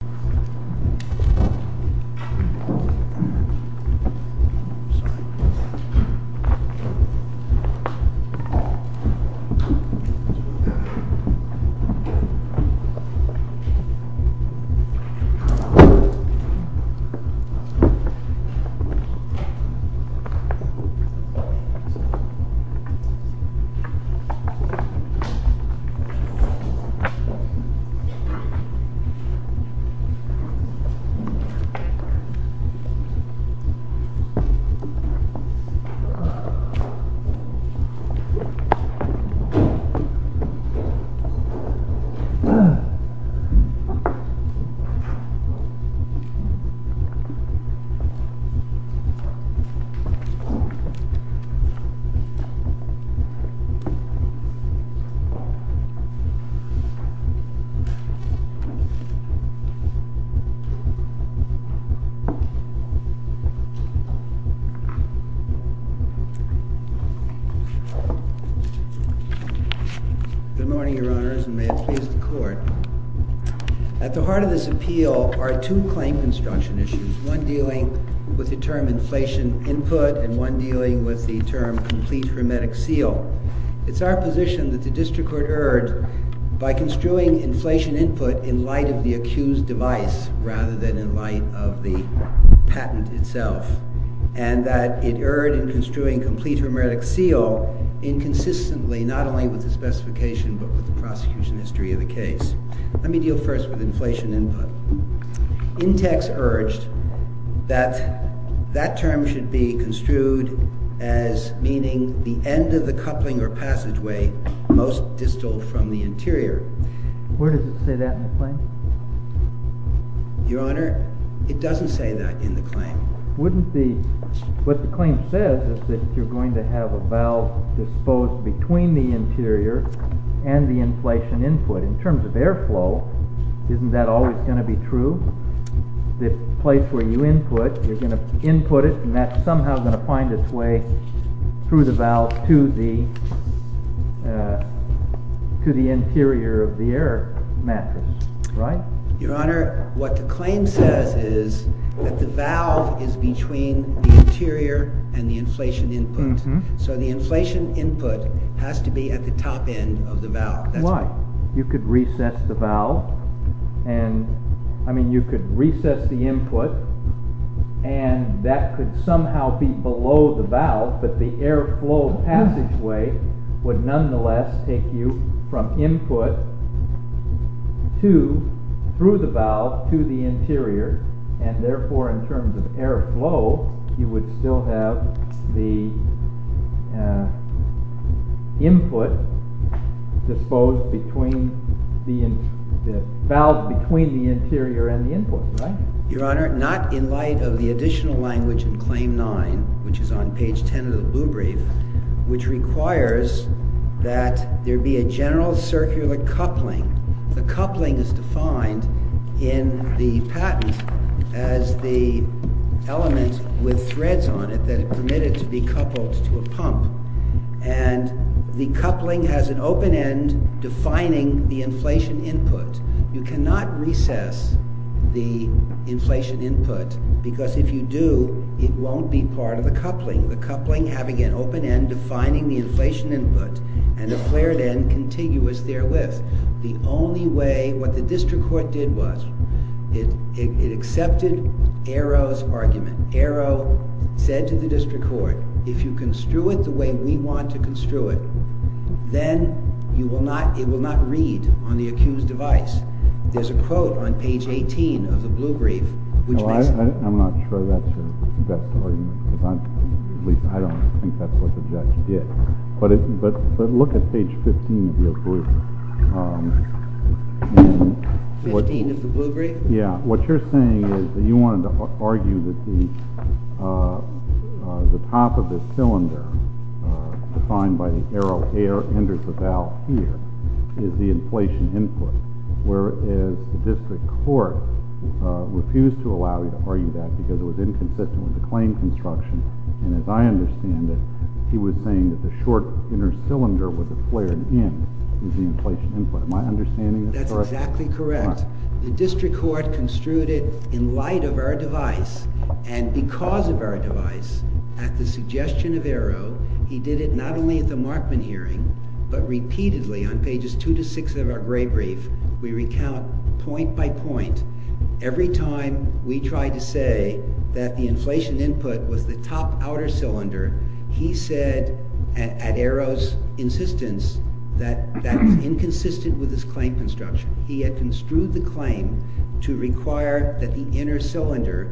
I'm sorry. Good morning, Your Honors, and may it please the Court. At the heart of this appeal are two claim construction issues, one dealing with the term inflation input and one dealing with the term complete hermetic seal. It's our position that the District Court urge, by construing inflation input in light of the accused device rather than in light of the patent itself, and that it erred in construing complete hermetic seal inconsistently, not only with the specification but with the prosecution history of the case. Let me deal first with inflation input. Intex urged that that term should be construed as meaning the end of the coupling or passageway most distal from the interior. Where does it say that in the claim? Your Honor, it doesn't say that in the claim. What the claim says is that you're going to have a valve disposed between the interior and the inflation input. In terms of airflow, isn't that always going to be true? The place where you input, you're going to input it, and that's somehow going to find its way through the valve to the interior of the air mattress, right? Your Honor, what the claim says is that the valve is between the interior and the inflation input. So the inflation input has to be at the top end of the valve. Why? You could recess the input, and that could somehow be below the valve, but the airflow passageway would nonetheless take you from input through the valve to the interior, and the valve between the interior and the input, right? Your Honor, not in light of the additional language in Claim 9, which is on page 10 of the Blue Brief, which requires that there be a general circular coupling. The coupling is defined in the patent as the element with threads on it that are permitted to be coupled to a pump. And the coupling has an open end defining the inflation input. You cannot recess the inflation input, because if you do, it won't be part of the coupling. The coupling having an open end defining the inflation input, and a flared end contiguous therewith. The only way, what the district court did was, it accepted Arrow's argument. Arrow said to the district court, if you construe it the way we want to construe it, then it will not read on the accused device. There's a quote on page 18 of the Blue Brief, which makes... I'm not sure that's your best argument, because I don't think that's what the judge did. But look at page 15 of the Blue... 15 of the Blue Brief? Yeah. What you're saying is that you wanted to argue that the top of the cylinder defined by the Arrow air enters the valve here is the inflation input, whereas the district court refused to allow you to argue that, because it was inconsistent with the claim construction. And as I understand it, he was saying that the short inner cylinder with the flared end is the inflation input. Am I understanding this correctly? That's exactly correct. The district court construed it in light of our device, and because of our device, at the suggestion of Arrow, he did it not only at the Markman hearing, but repeatedly on pages two to six of our Gray Brief, we recount point by point. Every time we tried to say that the inflation input was the top outer cylinder, he said at Arrow's insistence that that was inconsistent with his claim construction. He had construed the claim to require that the inner cylinder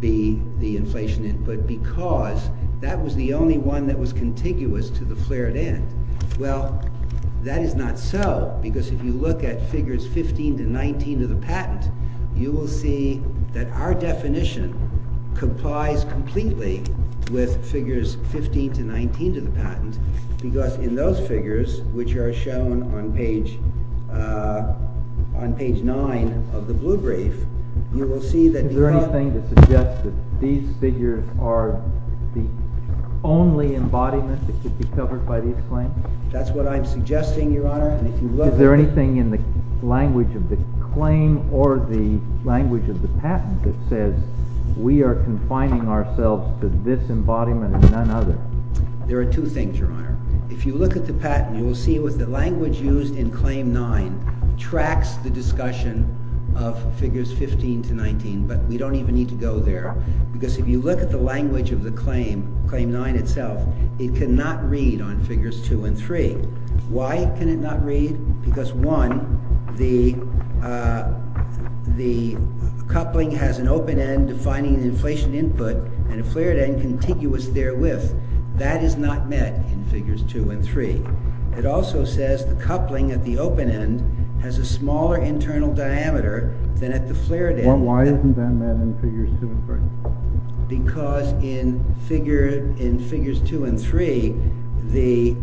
be the inflation input because that was the only one that was contiguous to the flared end. Well, that is not so, because if you look at figures 15 to 19 of the patent, you will see that our definition complies completely with figures 15 to 19 of the patent, because in those figures, which are shown on page nine of the Blue Brief, you will see that the- Is there anything to suggest that these figures are the only embodiment that could be covered by the exclaim? That's what I'm suggesting, Your Honor, and if you look at- Is there anything in the language of the claim or the language of the patent that says we are confining ourselves to this embodiment and none other? There are two things, Your Honor. If you look at the patent, you will see that the language used in claim nine tracks the discussion of figures 15 to 19, but we don't even need to go there, because if you look at the language of the claim, claim nine itself, it cannot read on figures two and three. Why can it not read? Because one, the coupling has an open end defining the inflation input and a flared end contiguous therewith. That is not met in figures two and three. It also says the coupling at the open end has a smaller internal diameter than at the flared end. Why isn't that met in figures two and three? Because in figures two and three, the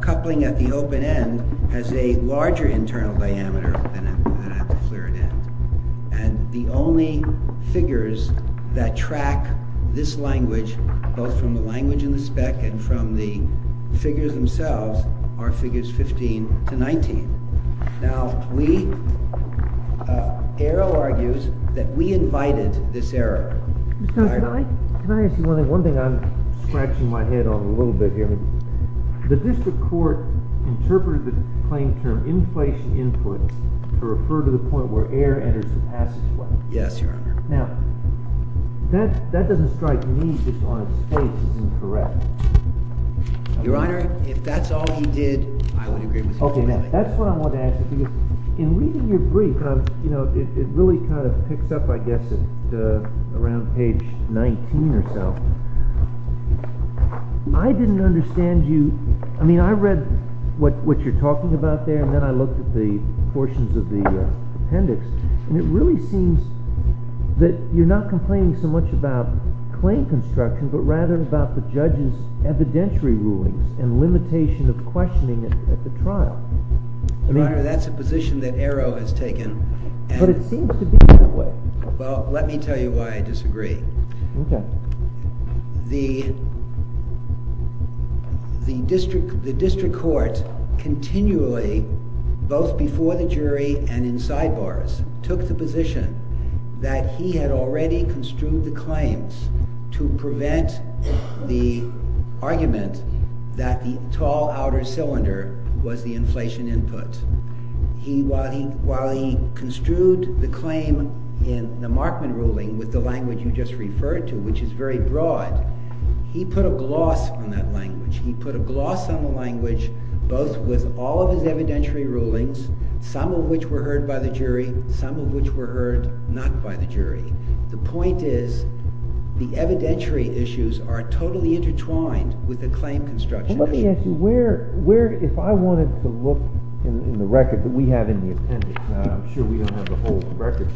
coupling at the open end has a larger internal diameter than at the flared end, and the only figures that track this language, both from the language in the spec and from the figures themselves, are figures 15 to 19. Now, we- Errol argues that we invited this error. Mr. Osterling? Can I ask you one thing? One thing I'm scratching my head on a little bit here. The district court interpreted the claim term inflation input to refer to the point where air enters the passageway. Yes, Your Honor. Now, that doesn't strike me as, on its face, incorrect. Your Honor, if that's all he did, I would agree with him. Okay. Now, that's what I want to ask you. In reading your brief, it really kind of picks up, I guess, at around page 19 or so. I didn't understand you. I mean, I read what you're talking about there, and then I looked at the portions of the appendix, and it really seems that you're not complaining so much about claim construction, but rather about the judge's evidentiary rulings and limitation of questioning at the trial. Your Honor, that's a position that Errol has taken. But it seems to be that way. Well, let me tell you why I disagree. Okay. The district court continually, both before the jury and in sidebars, took the position that he had already construed the claims to prevent the argument that the tall outer cylinder was the inflation input. While he construed the claim in the Markman ruling with the language you just referred to, which is very broad, he put a gloss on that language. He put a gloss on the language both with all of his evidentiary rulings, some of which were heard by the jury, some of which were heard not by the jury. The point is the evidentiary issues are totally intertwined with the claim construction issues. If I wanted to look in the record that we have in the appendix, I'm sure we don't have the whole record,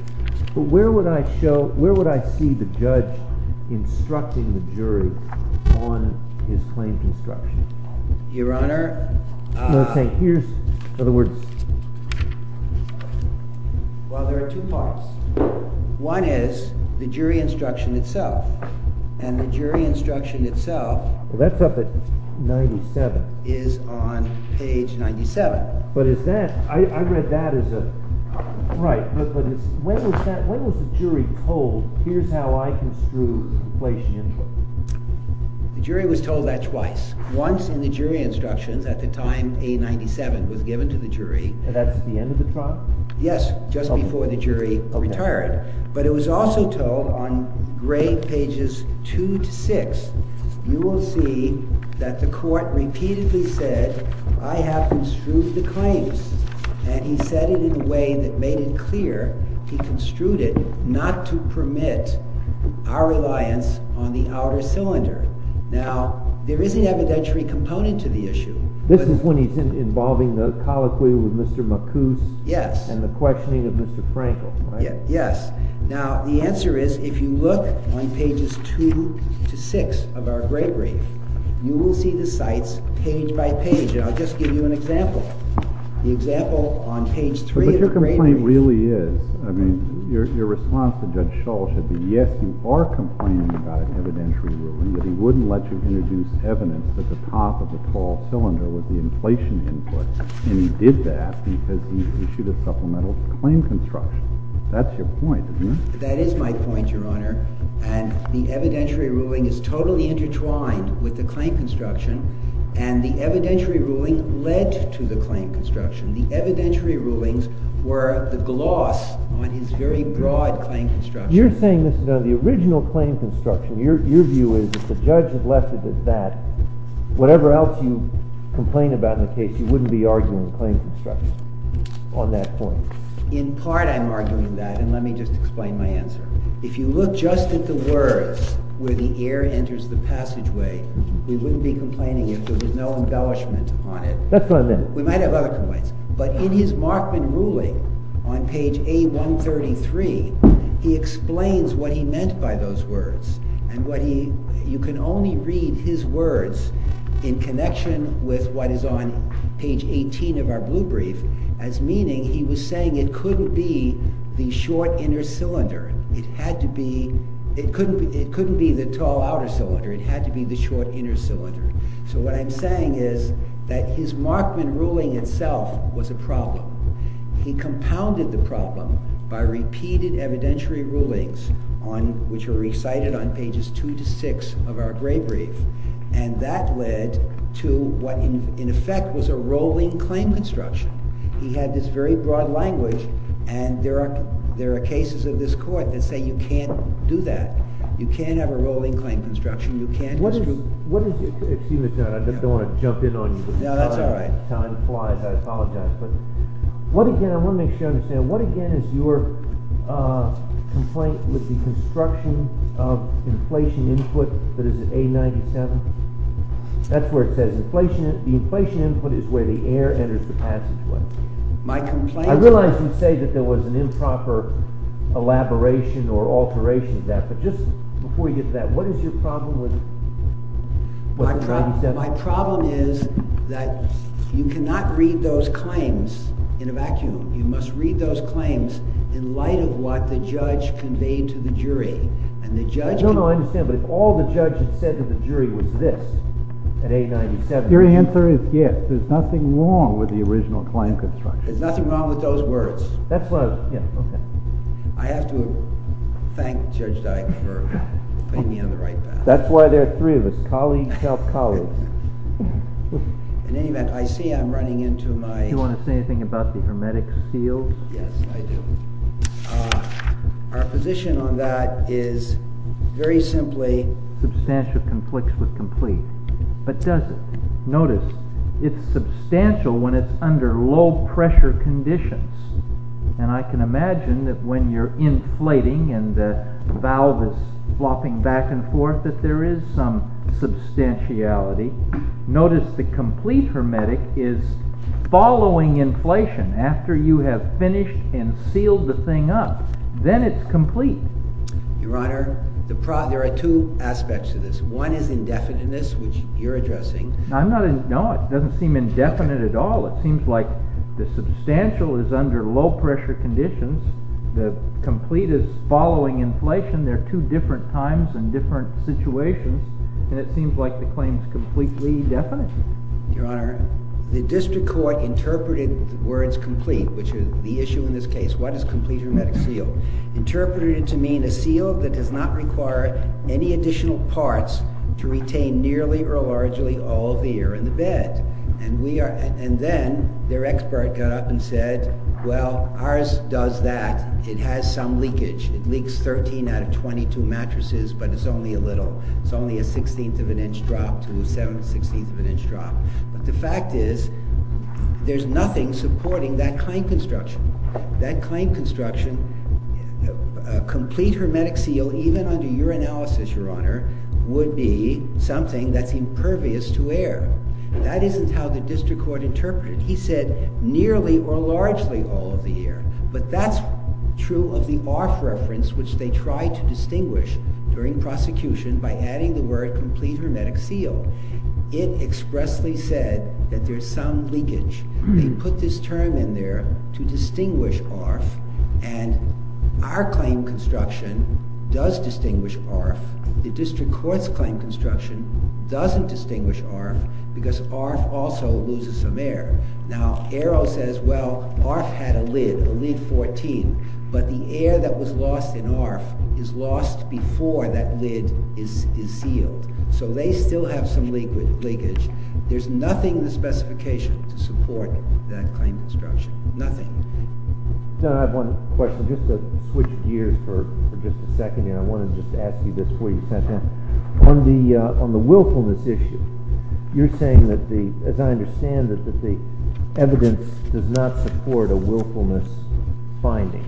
but where would I see the judge instructing the jury on his claims construction? Your Honor. Well, there are two parts. One is the jury instruction itself. And the jury instruction itself. Well, that's up at 97. Is on page 97. But is that, I read that as a, right, but when was the jury told, here's how I construe inflation input? The jury was told that twice. Once in the jury instructions at the time A97 was given to the jury. And that's at the end of the trial? Yes, just before the jury retired. But it was also told on grade pages two to six, you will see that the court repeatedly said, I have construed the claims. And he said it in a way that made it clear. He construed it not to permit our reliance on the outer cylinder. Now, there is an evidentiary component to the issue. This is when he's involving the colloquy with Mr. McCoose. Yes. And the questioning of Mr. Frankel. Yes. Now, the answer is, if you look on pages two to six of our grade brief, you will see the sites page by page. And I'll just give you an example. The example on page three of the grade brief. But your complaint really is, I mean, your response to Judge Shull should be, yes, you are complaining about an evidentiary ruling, but he wouldn't let you introduce evidence at the top of the tall cylinder with the inflation input. And he did that because he issued a supplemental claim construction. That's your point, isn't it? That is my point, Your Honor. And the evidentiary ruling is totally intertwined with the claim construction. And the evidentiary ruling led to the claim construction. The evidentiary rulings were the gloss on his very broad claim construction. You're saying this is on the original claim construction. Your view is that the judge has left it at that. Whatever else you complain about in the case, you wouldn't be arguing claim construction on that point. In part, I'm arguing that. And let me just explain my answer. If you look just at the words, where the air enters the passageway, we wouldn't be complaining if there was no embellishment on it. That's what I meant. We might have other complaints. But in his Markman ruling on page A133, he explains what he meant by those words. You can only read his words in connection with what is on page 18 of our blue brief as meaning he was saying it couldn't be the short inner cylinder. It couldn't be the tall outer cylinder. It had to be the short inner cylinder. So what I'm saying is that his Markman ruling itself was a problem. He compounded the problem by repeated evidentiary rulings which are recited on pages two to six of our gray brief. And that led to what in effect was a rolling claim construction. He had this very broad language. And there are cases of this court that say you can't do that. You can't have a rolling claim construction. You can't construe... What is your... Excuse me, John. I don't want to jump in on you. No, that's all right. Time flies. I apologize. But what again... I want to make sure I understand. What again is your complaint with the construction of inflation input that is at A97? That's where it says the inflation input is where the air enters the passageway. My complaint... I realize you say that there was an improper elaboration or alteration of that. But just before you get to that, what is your problem with A97? My problem is that you cannot read those claims in a vacuum. You must read those claims in light of what the judge conveyed to the jury. And the judge... No, no, I understand. But if all the judge had said to the jury was this at A97... Your answer is yes. There's nothing wrong with the original claim construction. There's nothing wrong with those words. That's why... Yeah, okay. I have to thank Judge Dyke for putting me on the right path. That's why there are three of us. Colleagues help colleagues. In any event, I see I'm running into my... Do you want to say anything about the hermetic seals? Yes, I do. Our position on that is very simply... Substantial conflicts with complete. But does it? Notice, it's substantial when it's under low pressure conditions. And I can imagine that when you're inflating and the valve is flopping back and forth, that there is some substantiality. Notice the complete hermetic is following inflation after you have finished and sealed the thing up. Then it's complete. Your Honor, there are two aspects to this. One is indefiniteness, which you're addressing. No, it doesn't seem indefinite at all. It seems like the substantial is under low pressure conditions. The complete is following inflation. There are two different times and different situations. And it seems like the claim is completely definite. Your Honor, the district court interpreted the words complete, which is the issue in this case. What is complete hermetic seal? Interpreted it to mean a seal that does not require any additional parts to retain nearly or largely all of the air in the bed. And then their expert got up and said, Well, ours does that. It has some leakage. It leaks 13 out of 22 mattresses, but it's only a little. It's only a sixteenth of an inch drop to a seven-sixteenth of an inch drop. But the fact is, there's nothing supporting that claim construction. That claim construction, a complete hermetic seal, even under your analysis, Your Honor, would be something that's impervious to air. That isn't how the district court interpreted it. He said nearly or largely all of the air. But that's true of the ARF reference, which they tried to distinguish during prosecution by adding the word complete hermetic seal. It expressly said that there's some leakage. They put this term in there to distinguish ARF. And our claim construction does distinguish ARF. The district court's claim construction doesn't distinguish ARF because ARF also loses some air. Now, Arrow says, well, ARF had a lid, a lid 14. But the air that was lost in ARF is lost before that lid is sealed. So they still have some leakage. There's nothing in the specification to support that claim construction. Nothing. I have one question, just to switch gears for just a second here. I wanted to just ask you this before you sent in. On the willfulness issue, you're saying, as I understand it, that the evidence does not support a willfulness finding.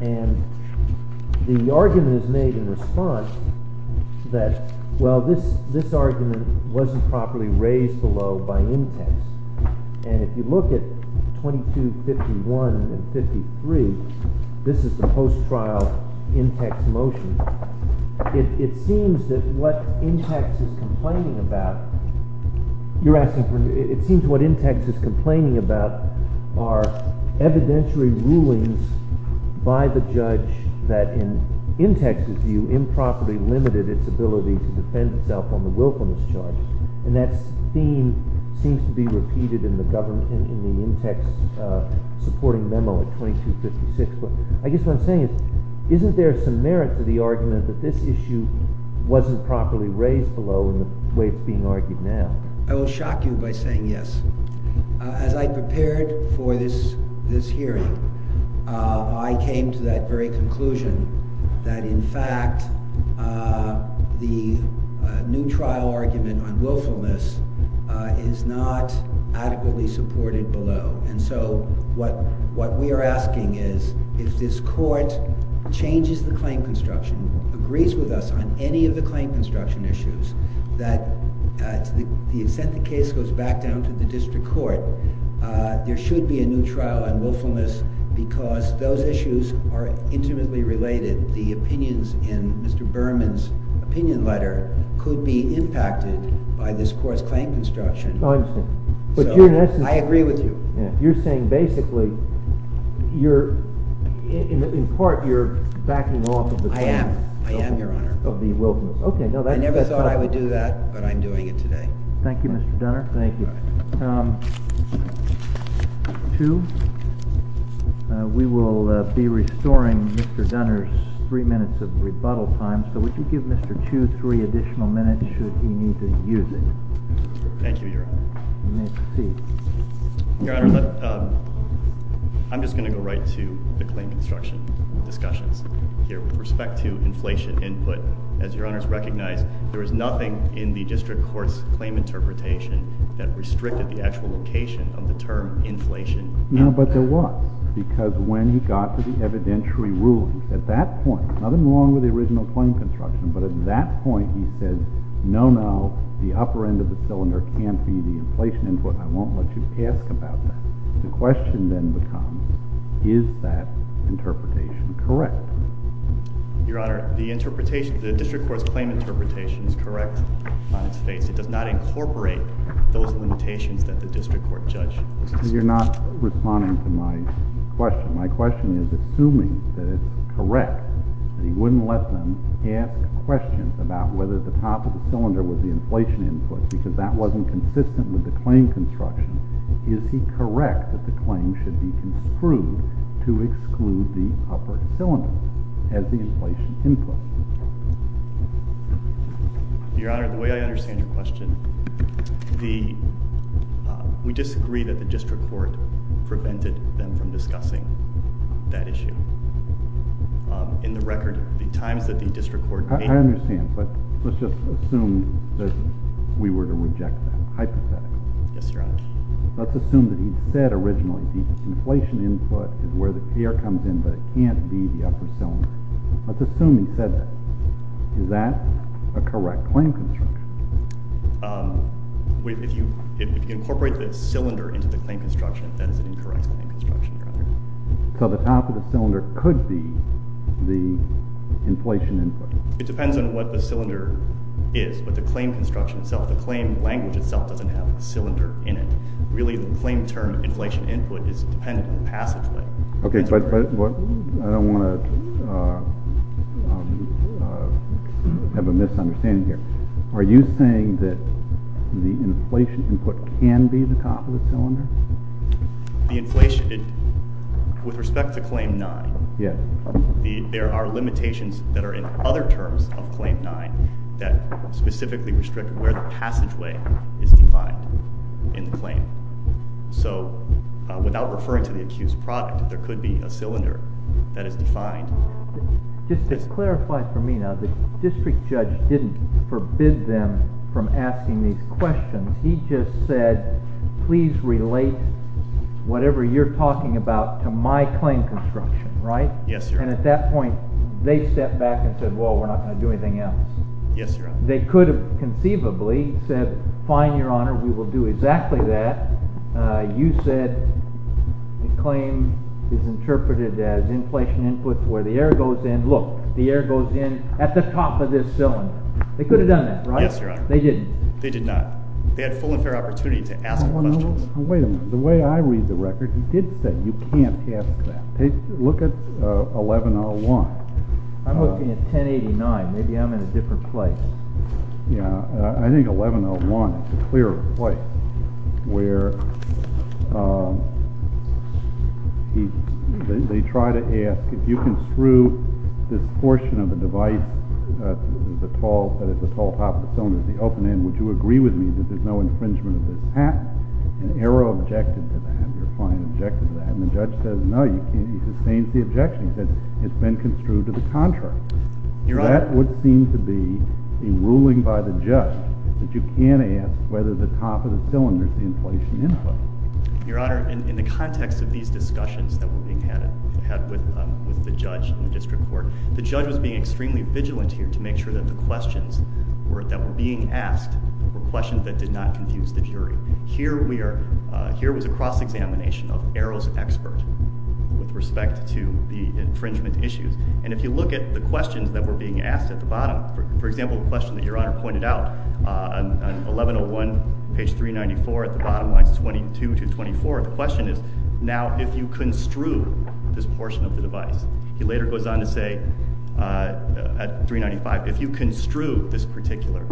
And the argument is made in response that, well, this argument wasn't properly raised below by in-text. And if you look at 2251 and 53, this is the post-trial in-text motion. It seems that what in-text is complaining about are evidentiary rulings by the judge that, in in-text's view, improperly limited its ability to defend itself on the willfulness charge. And that theme seems to be repeated in the in-text supporting memo at 2256. I guess what I'm saying is, isn't there some merit to the argument that this issue wasn't properly raised below in the way it's being argued now? I will shock you by saying yes. As I prepared for this hearing, I came to that very conclusion that, in fact, the new trial argument on willfulness is not adequately supported below. And so what we are asking is, if this court changes the claim construction, agrees with us on any of the claim construction issues, that to the extent the case goes back down to the district court, there should be a new trial on willfulness because those issues are intimately related. The opinions in Mr. Berman's opinion letter could be impacted by this court's claim construction. I agree with you. You're saying, basically, in part, you're backing off of the claim. I am, Your Honor. I never thought I would do that, but I'm doing it today. Thank you, Mr. Dunner. Two, we will be restoring Mr. Dunner's three minutes of rebuttal time, so would you give Mr. Two three additional minutes, should he need to use it? Thank you, Your Honor. You may proceed. Your Honor, I'm just going to go right to the claim construction discussions with respect to inflation input. As Your Honor has recognized, there was nothing in the district court's claim interpretation that restricted the actual location of the term inflation. No, but there was, because when he got to the evidentiary ruling, at that point, nothing wrong with the original claim construction, but at that point, he said, no, no, the upper end of the cylinder can't be the inflation input. I won't let you ask about that. The question then becomes, is that interpretation correct? Your Honor, the district court's claim interpretation is correct on its face. It does not incorporate those limitations that the district court judged. You're not responding to my question. My question is, assuming that it's correct, that he wouldn't let them ask questions about whether the top of the cylinder was the inflation input because that wasn't consistent with the claim construction, is he correct that the claim should be construed to exclude the upper cylinder as the inflation input? Your Honor, the way I understand your question, we disagree that the district court prevented them from discussing that issue. In the record, the times that the district court... I understand, but let's just assume that we were to reject that hypothetically. Yes, Your Honor. Let's assume that he said originally the inflation input is where the air comes in, but it can't be the upper cylinder. Let's assume he said that. Is that a correct claim construction? that is an incorrect claim construction, Your Honor. So the top of the cylinder could be the inflation input. It depends on what the cylinder is, but the claim construction itself, the claim language itself doesn't have the cylinder in it. Really, the claim term inflation input is dependent on the passageway. Okay, but I don't want to have a misunderstanding here. Are you saying that the inflation input can be the top of the cylinder? With respect to Claim 9, there are limitations that are in other terms of Claim 9 that specifically restrict where the passageway is defined in the claim. So without referring to the accused product, there could be a cylinder that is defined. Just to clarify for me now, the district judge didn't forbid them from asking these questions. He just said, please relate whatever you're talking about to my claim construction, right? And at that point, they stepped back and said, well, we're not going to do anything else. They could have conceivably said, fine, Your Honor, we will do exactly that. You said the claim is interpreted as inflation input where the air goes in. Look, the air goes in at the top of this cylinder. They could have done that, right? They didn't. They did not. They had full and fair opportunity to ask questions. Wait a minute. The way I read the record, he did say you can't ask that. Look at 1101. I'm looking at 1089. Maybe I'm in a different place. Yeah, I think 1101 is a clearer place where they try to ask if you can screw this portion of the device that is the tall top of the cylinder, the open end, would you agree with me that there's no infringement of this patent? And Arrow objected to that. Your client objected to that. And the judge says, no. He sustains the objection. He says, it's been construed to the contrary. That would seem to be a ruling by the judge that you can't ask whether the top of the cylinder is the inflation input. Your Honor, in the context of these discussions that were being had with the judge in the district court, the judge was being extremely vigilant here to make sure that the questions that were being asked were questions that did not confuse the jury. Here was a cross-examination of Arrow's expert with respect to the infringement issues. And if you look at the questions that were being asked at the bottom, for example, the question that Your Honor pointed out on 1101, page 394, at the bottom lines 22 to 24, the question is, now if you construe this portion of the device, he later goes on to say at 395, if you construe this particular,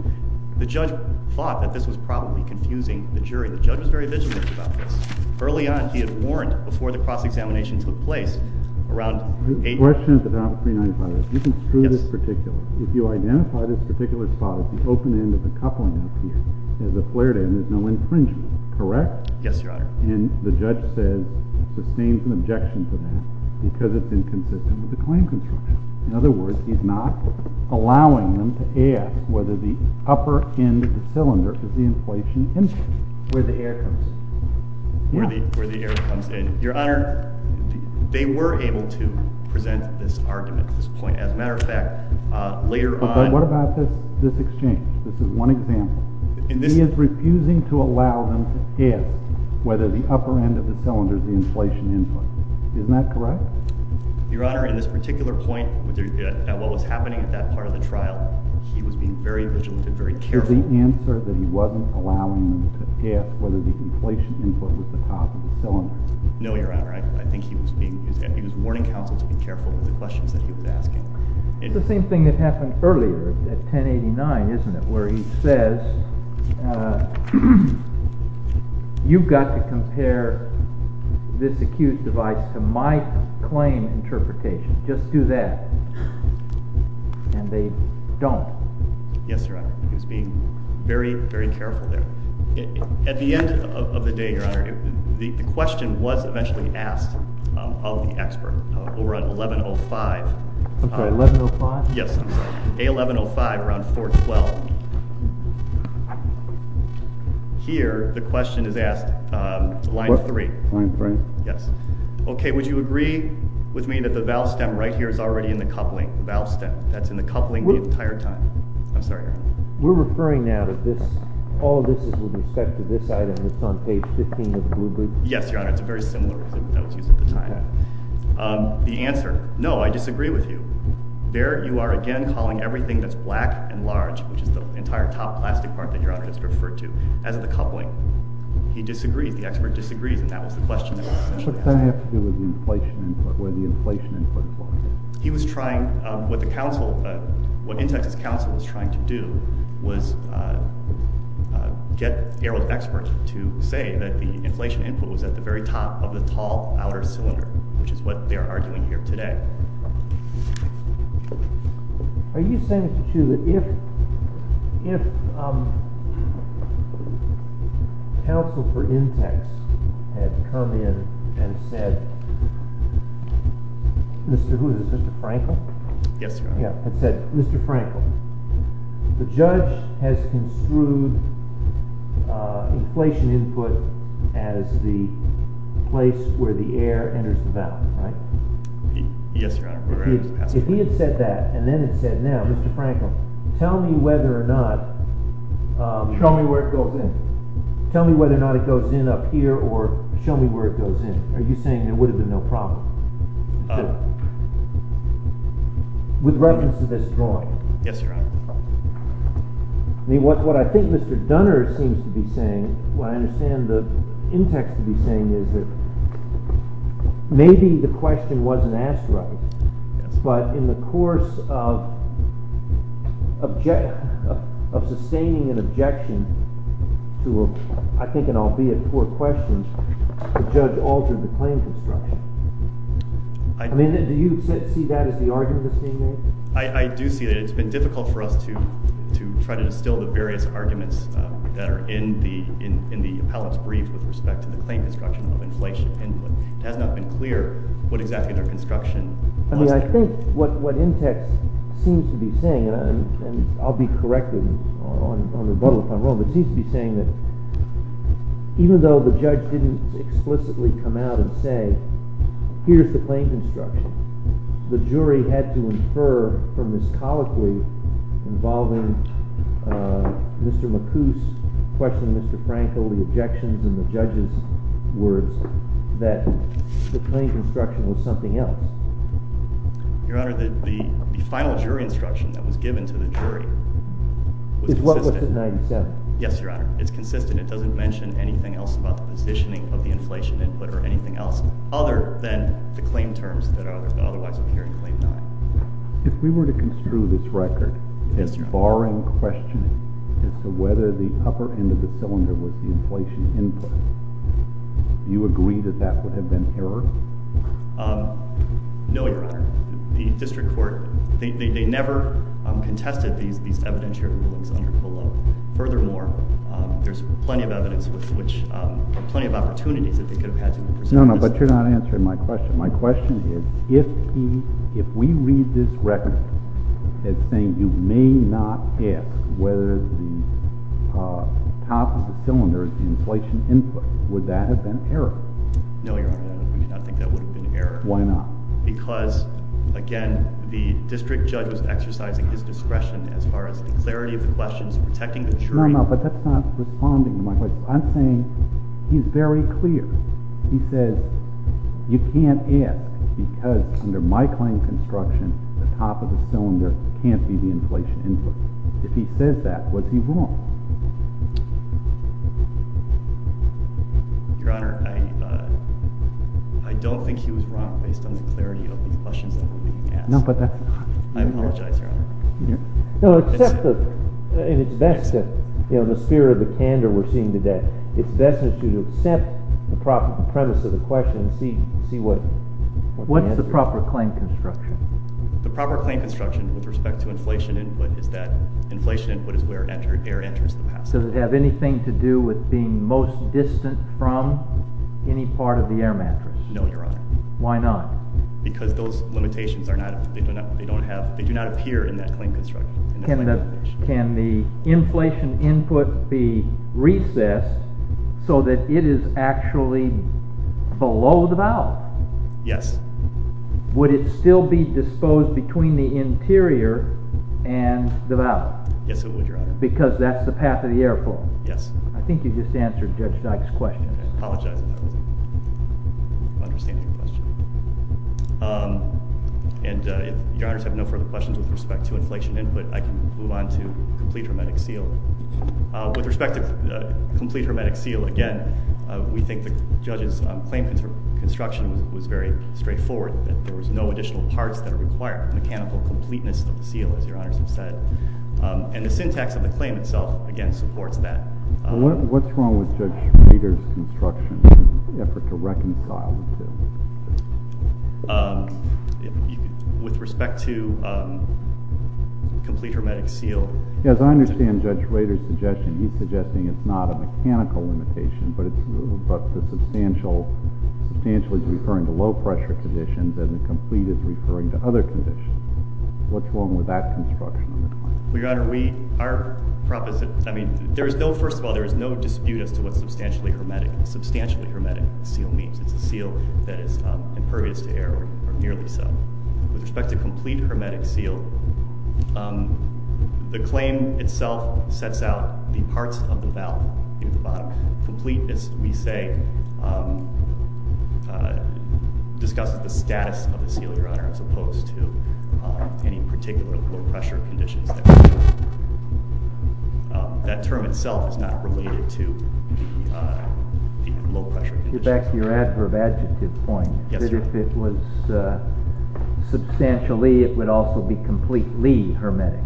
the judge thought that this was probably confusing the jury. The judge was very vigilant about this. Early on, he had warned before the cross-examination took place around 8. The question at the bottom of 395 is, if you construe this particular, if you identify this particular spot as the open end of the coupling out here, as a flared end, there's no infringement. Correct? Yes, Your Honor. And the judge says, sustains an objection to that because it's inconsistent with the claim construction. In other words, he's not allowing them to ask whether the upper end of the cylinder is the inflation input. Where the air comes. Yeah. Where the air comes in. Your Honor, they were able to present this argument at this point. As a matter of fact, later on... But what about this exchange? This is one example. He is refusing to allow them to ask whether the upper end of the cylinder is the inflation input. Isn't that correct? Your Honor, in this particular point, at what was happening at that part of the trial, he was being very vigilant and very careful. Was the answer that he wasn't allowing them to ask whether the inflation input was the top of the cylinder? No, Your Honor. I think he was being, he was warning counsel to be careful with the questions that he was asking. It's the same thing that happened earlier at 1089, isn't it? Where he says, you've got to compare this accused device to my claim interpretation. Just do that. And they don't. Yes, Your Honor. He was being very, very careful there. At the end of the day, Your Honor, the question was eventually asked of the expert over on 1105. 1105? Yes. A1105, around 412. Here, the question is asked at line 3. Line 3? Yes. Okay, would you agree with me that the valve stem right here is already in the coupling? The valve stem that's in the coupling the entire time? I'm sorry, Your Honor. We're referring now that this, all of this is with respect to this item that's on page 15 of the blue brief? Yes, Your Honor. It's a very similar reason that was used at the time. The answer, no, I disagree with you. There you are again calling everything that's black and large, which is the entire top plastic part that Your Honor has referred to as the coupling. He disagrees, the expert disagrees and that was the question that was essentially asked. What does that have to do with the inflation input, where the inflation input was? He was trying, what the counsel, what in Texas counsel was trying to do was get the experts that the inflation input was at the very top of the tall outer cylinder, which is what they are arguing here today. Are you saying, Mr. Chiu, that if if counsel for in-tex had come in and said Mr. who, was it Mr. Frankel? Yes, Your Honor. Yeah, and said, Mr. Frankel, the judge has construed inflation input as the place where the air enters the valley, Yes, Your Honor. If he had said that and then had said now, Mr. Frankel, tell me whether or not the judge had said that show me where it goes in. Tell me whether or not it goes in up here or show me where it goes in. Are you saying there would have been no problem with reference to this drawing? Yes, Your Honor. I mean, what I think Mr. Dunner seems to be saying, what I understand the in-tex to be saying is that maybe the question wasn't asked right, but in the course of sustaining an objection to a I think an albeit poor question, the judge altered the claim construction. I mean, do you see that as the argument that's being made? I do see that. It's been difficult for us to try to instill the various arguments that are in the appellate's brief with respect to the claim construction of inflation input. It has not been clear what exactly their construction was. I mean, I think what in-tex seems to be saying, and I'll be corrected on the rebuttal if I'm wrong, but seems to be saying that even though the judge didn't agree with Mr. Frankel, the objections and the judge's words, that the claim construction was something else. Your Honor, the final jury instruction that was given to the jury was consistent. Is what was it, 97? Yes, Your Honor. It's consistent. It doesn't mention anything else about the claim terms that are otherwise a hearing claim. If we were to construe this record barring questioning as to whether the upper end of the cylinder was the inflation input, do you agree that that would have been error? No, Your Honor. The district court, they never contested these evidentiary rulings. Furthermore, there's plenty of evidence with which plenty of opportunities that they could have had. No, but you're not answering my question. My question is, if we read this record as saying you may not have whether the top of the cylinder is the inflation input, would that have been error? No, Your Honor. We do not think that would have been error. Why not? Because, again, the district judge was exercising his discretion as far as the clarity of the questions, protecting the input. No, but that's not responding to my question. I'm saying he's very clear. He says you can't ask because under my claim construction the top of the cylinder can't be the inflation input. If he says that, what's he wrong? Your Honor, I don't think he was wrong based on the clarity of the questions that were being asked. No, but that's not. I apologize, Your Honor. No, except that in the sphere of the candor we're seeing today, it's best that you accept the premise of the inflation input. No, Your Honor. Why not? Because those limitations do not appear in that claim construction. Can the input be recessed so that it is actually below the valve? Yes. Would it still be disposed between the interior and valve? Yes, it would, Your Honor. Because that's the path of the air flow? Yes. I think you just answered Judge Dyke's question. I apologize about that. I don't understand your question. And if Your Honor's have no further questions with respect to inflation input, I can move on to complete hermetic seal. With respect to complete hermetic seal, again, we think the Judge's claim construction was very straightforward. There was no additional parts that require mechanical limitations. And the syntax of the claim itself again supports that. Well, what's wrong with Judge Rader's construction effort to reconcile with this? With respect to complete hermetic seal. Yes, I understand Judge Rader's suggestion. He's suggesting it's not a mechanical limitation, but the substantial is referring to low pressure conditions, and the complete is referring to other conditions. What's wrong with that construction on the claim? Your Honor, there is no dispute as to what substantially hermetic seal means. It's a seal that is impervious to error or nearly so. With respect to complete hermetic seal, the claim itself sets out the parts of the adverb. That term itself is not related to the low pressure condition. Get back to your adverb adjective point. Yes, sir. That if it was substantially it would also be completely hermetic.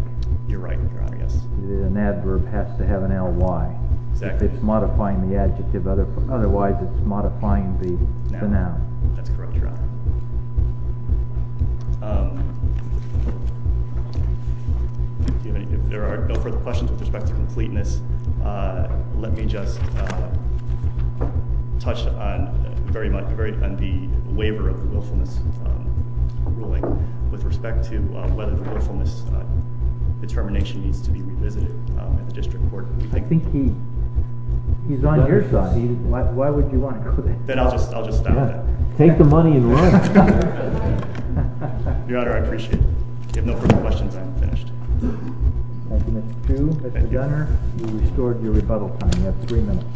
You're right, Your Honor, yes. An adverb has to have an L-Y. If it's modifying the adjective, it's modifying the noun. That's correct, Your Honor. If there are no further questions with respect to completeness, let me just touch on the waiver of the willfulness ruling with respect to whether the willfulness determination needs to be revisited at the district court. I think he's on your side. Why would you want to go there? Then I'll just stop that. Take the money and roll. Your Honor, I appreciate it. If there are no further questions, I'm finished. Thank you, Mr. Chiu. Mr. Gunner, you restored your rebuttal time. You have three minutes.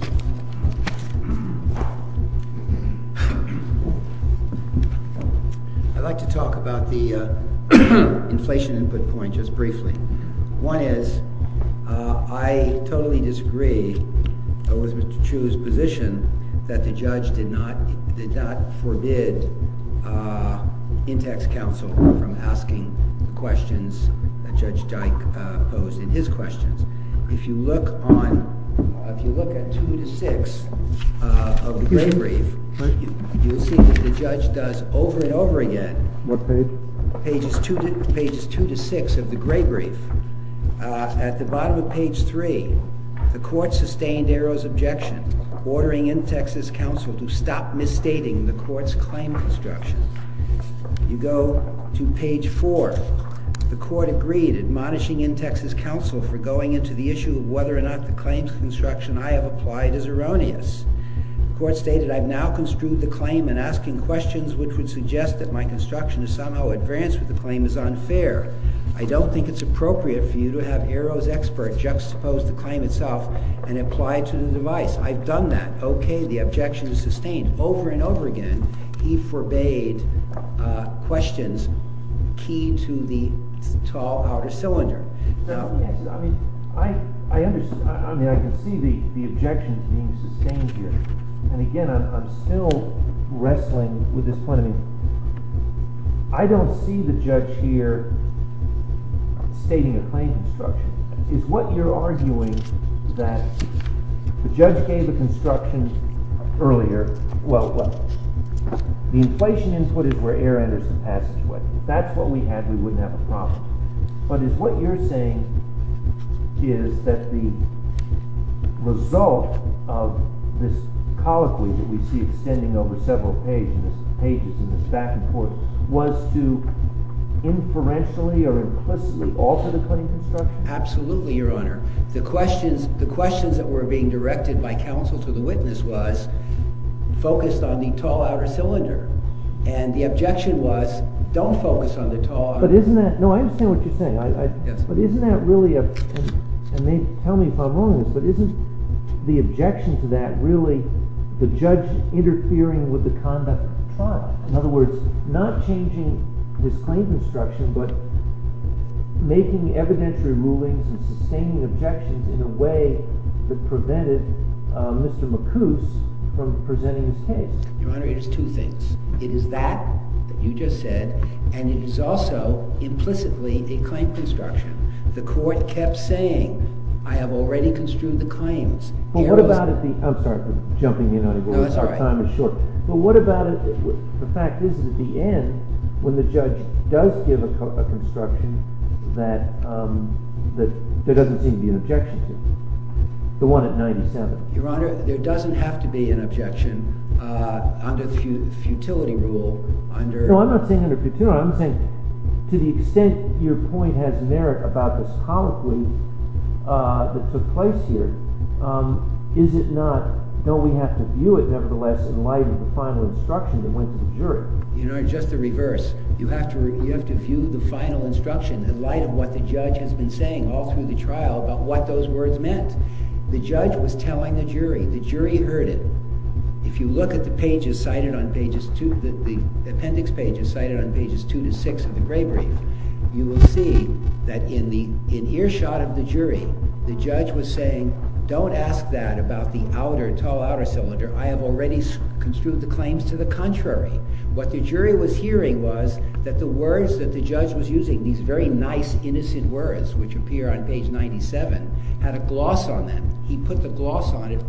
I'd like to talk about the inflation input point just briefly. One is, I totally disagree with Mr. Chiu's position that the judge did not forbid in-text counsel from asking questions that Judge Dyke posed in his questions. If you look at two to six of the gray brief, you'll see what the judge does over and over again. What page? Pages two to six of the gray brief. At the bottom of page three, the court sustained Arrow's objection ordering in-text counsel to stop misstating the court's claim construction. You go to page four. The court agreed admonishing in-text counsel for going into the issue of whether or not the claims construction I have applied is erroneous. The court stated, I've now construed the claim and asking questions which would suggest that my construction is unfair. I don't think it's appropriate for you to have Arrow's expert juxtapose the claim itself and apply it to the device. Yes, I've done that. Okay, the objection is sustained. Over and over again he forbade questions key to the tall outer cylinder. I can see the objection being sustained here. Again, I'm still wrestling with this point. I don't see the judge here stating a claim construction. Is what you're arguing that the judge gave a construction earlier? Well, the inflation input is where air enters the passageway. If that's what we had we wouldn't have a problem. But is what you're saying is that the result of this is that the judge is not making evidence removing the construction and not changing this claim construction but making evidence removing the construction and not changing the objection in a way that prevented Mr. McCoose from presenting his case? Your Honor, it is two things. It is that you just said and it is also implicitly a claim construction. The court kept saying I have already construed the claims. But what about the fact is at the end when the judge does give a construction that doesn't seem to be an objection to. The one at 97. Your Honor, there doesn't have to be an objection under the futility rule. I'm not saying under futility. I'm saying to the extent your point has merit about this colloquy that took place here, don't we have to view it nevertheless in light of the final instruction from the jury. Your Honor, just the reverse. You have to view the final instruction in light of what the judge has been saying all through the trial about what those words meant. The judge was telling the jury. The jury heard it. If you look at the appendix pages 2-6 of the gray brief, you will see that in earshot of the jury, the judge was saying don't ask that about the outer cylinder. I have already construed the claims to the contrary. What the judge ask that about the outer cylinder. In earshot of the jury, the judge was saying don't ask that don't ask that about the outer cylinder. In earshot of the jury, the judge was saying don't ask that about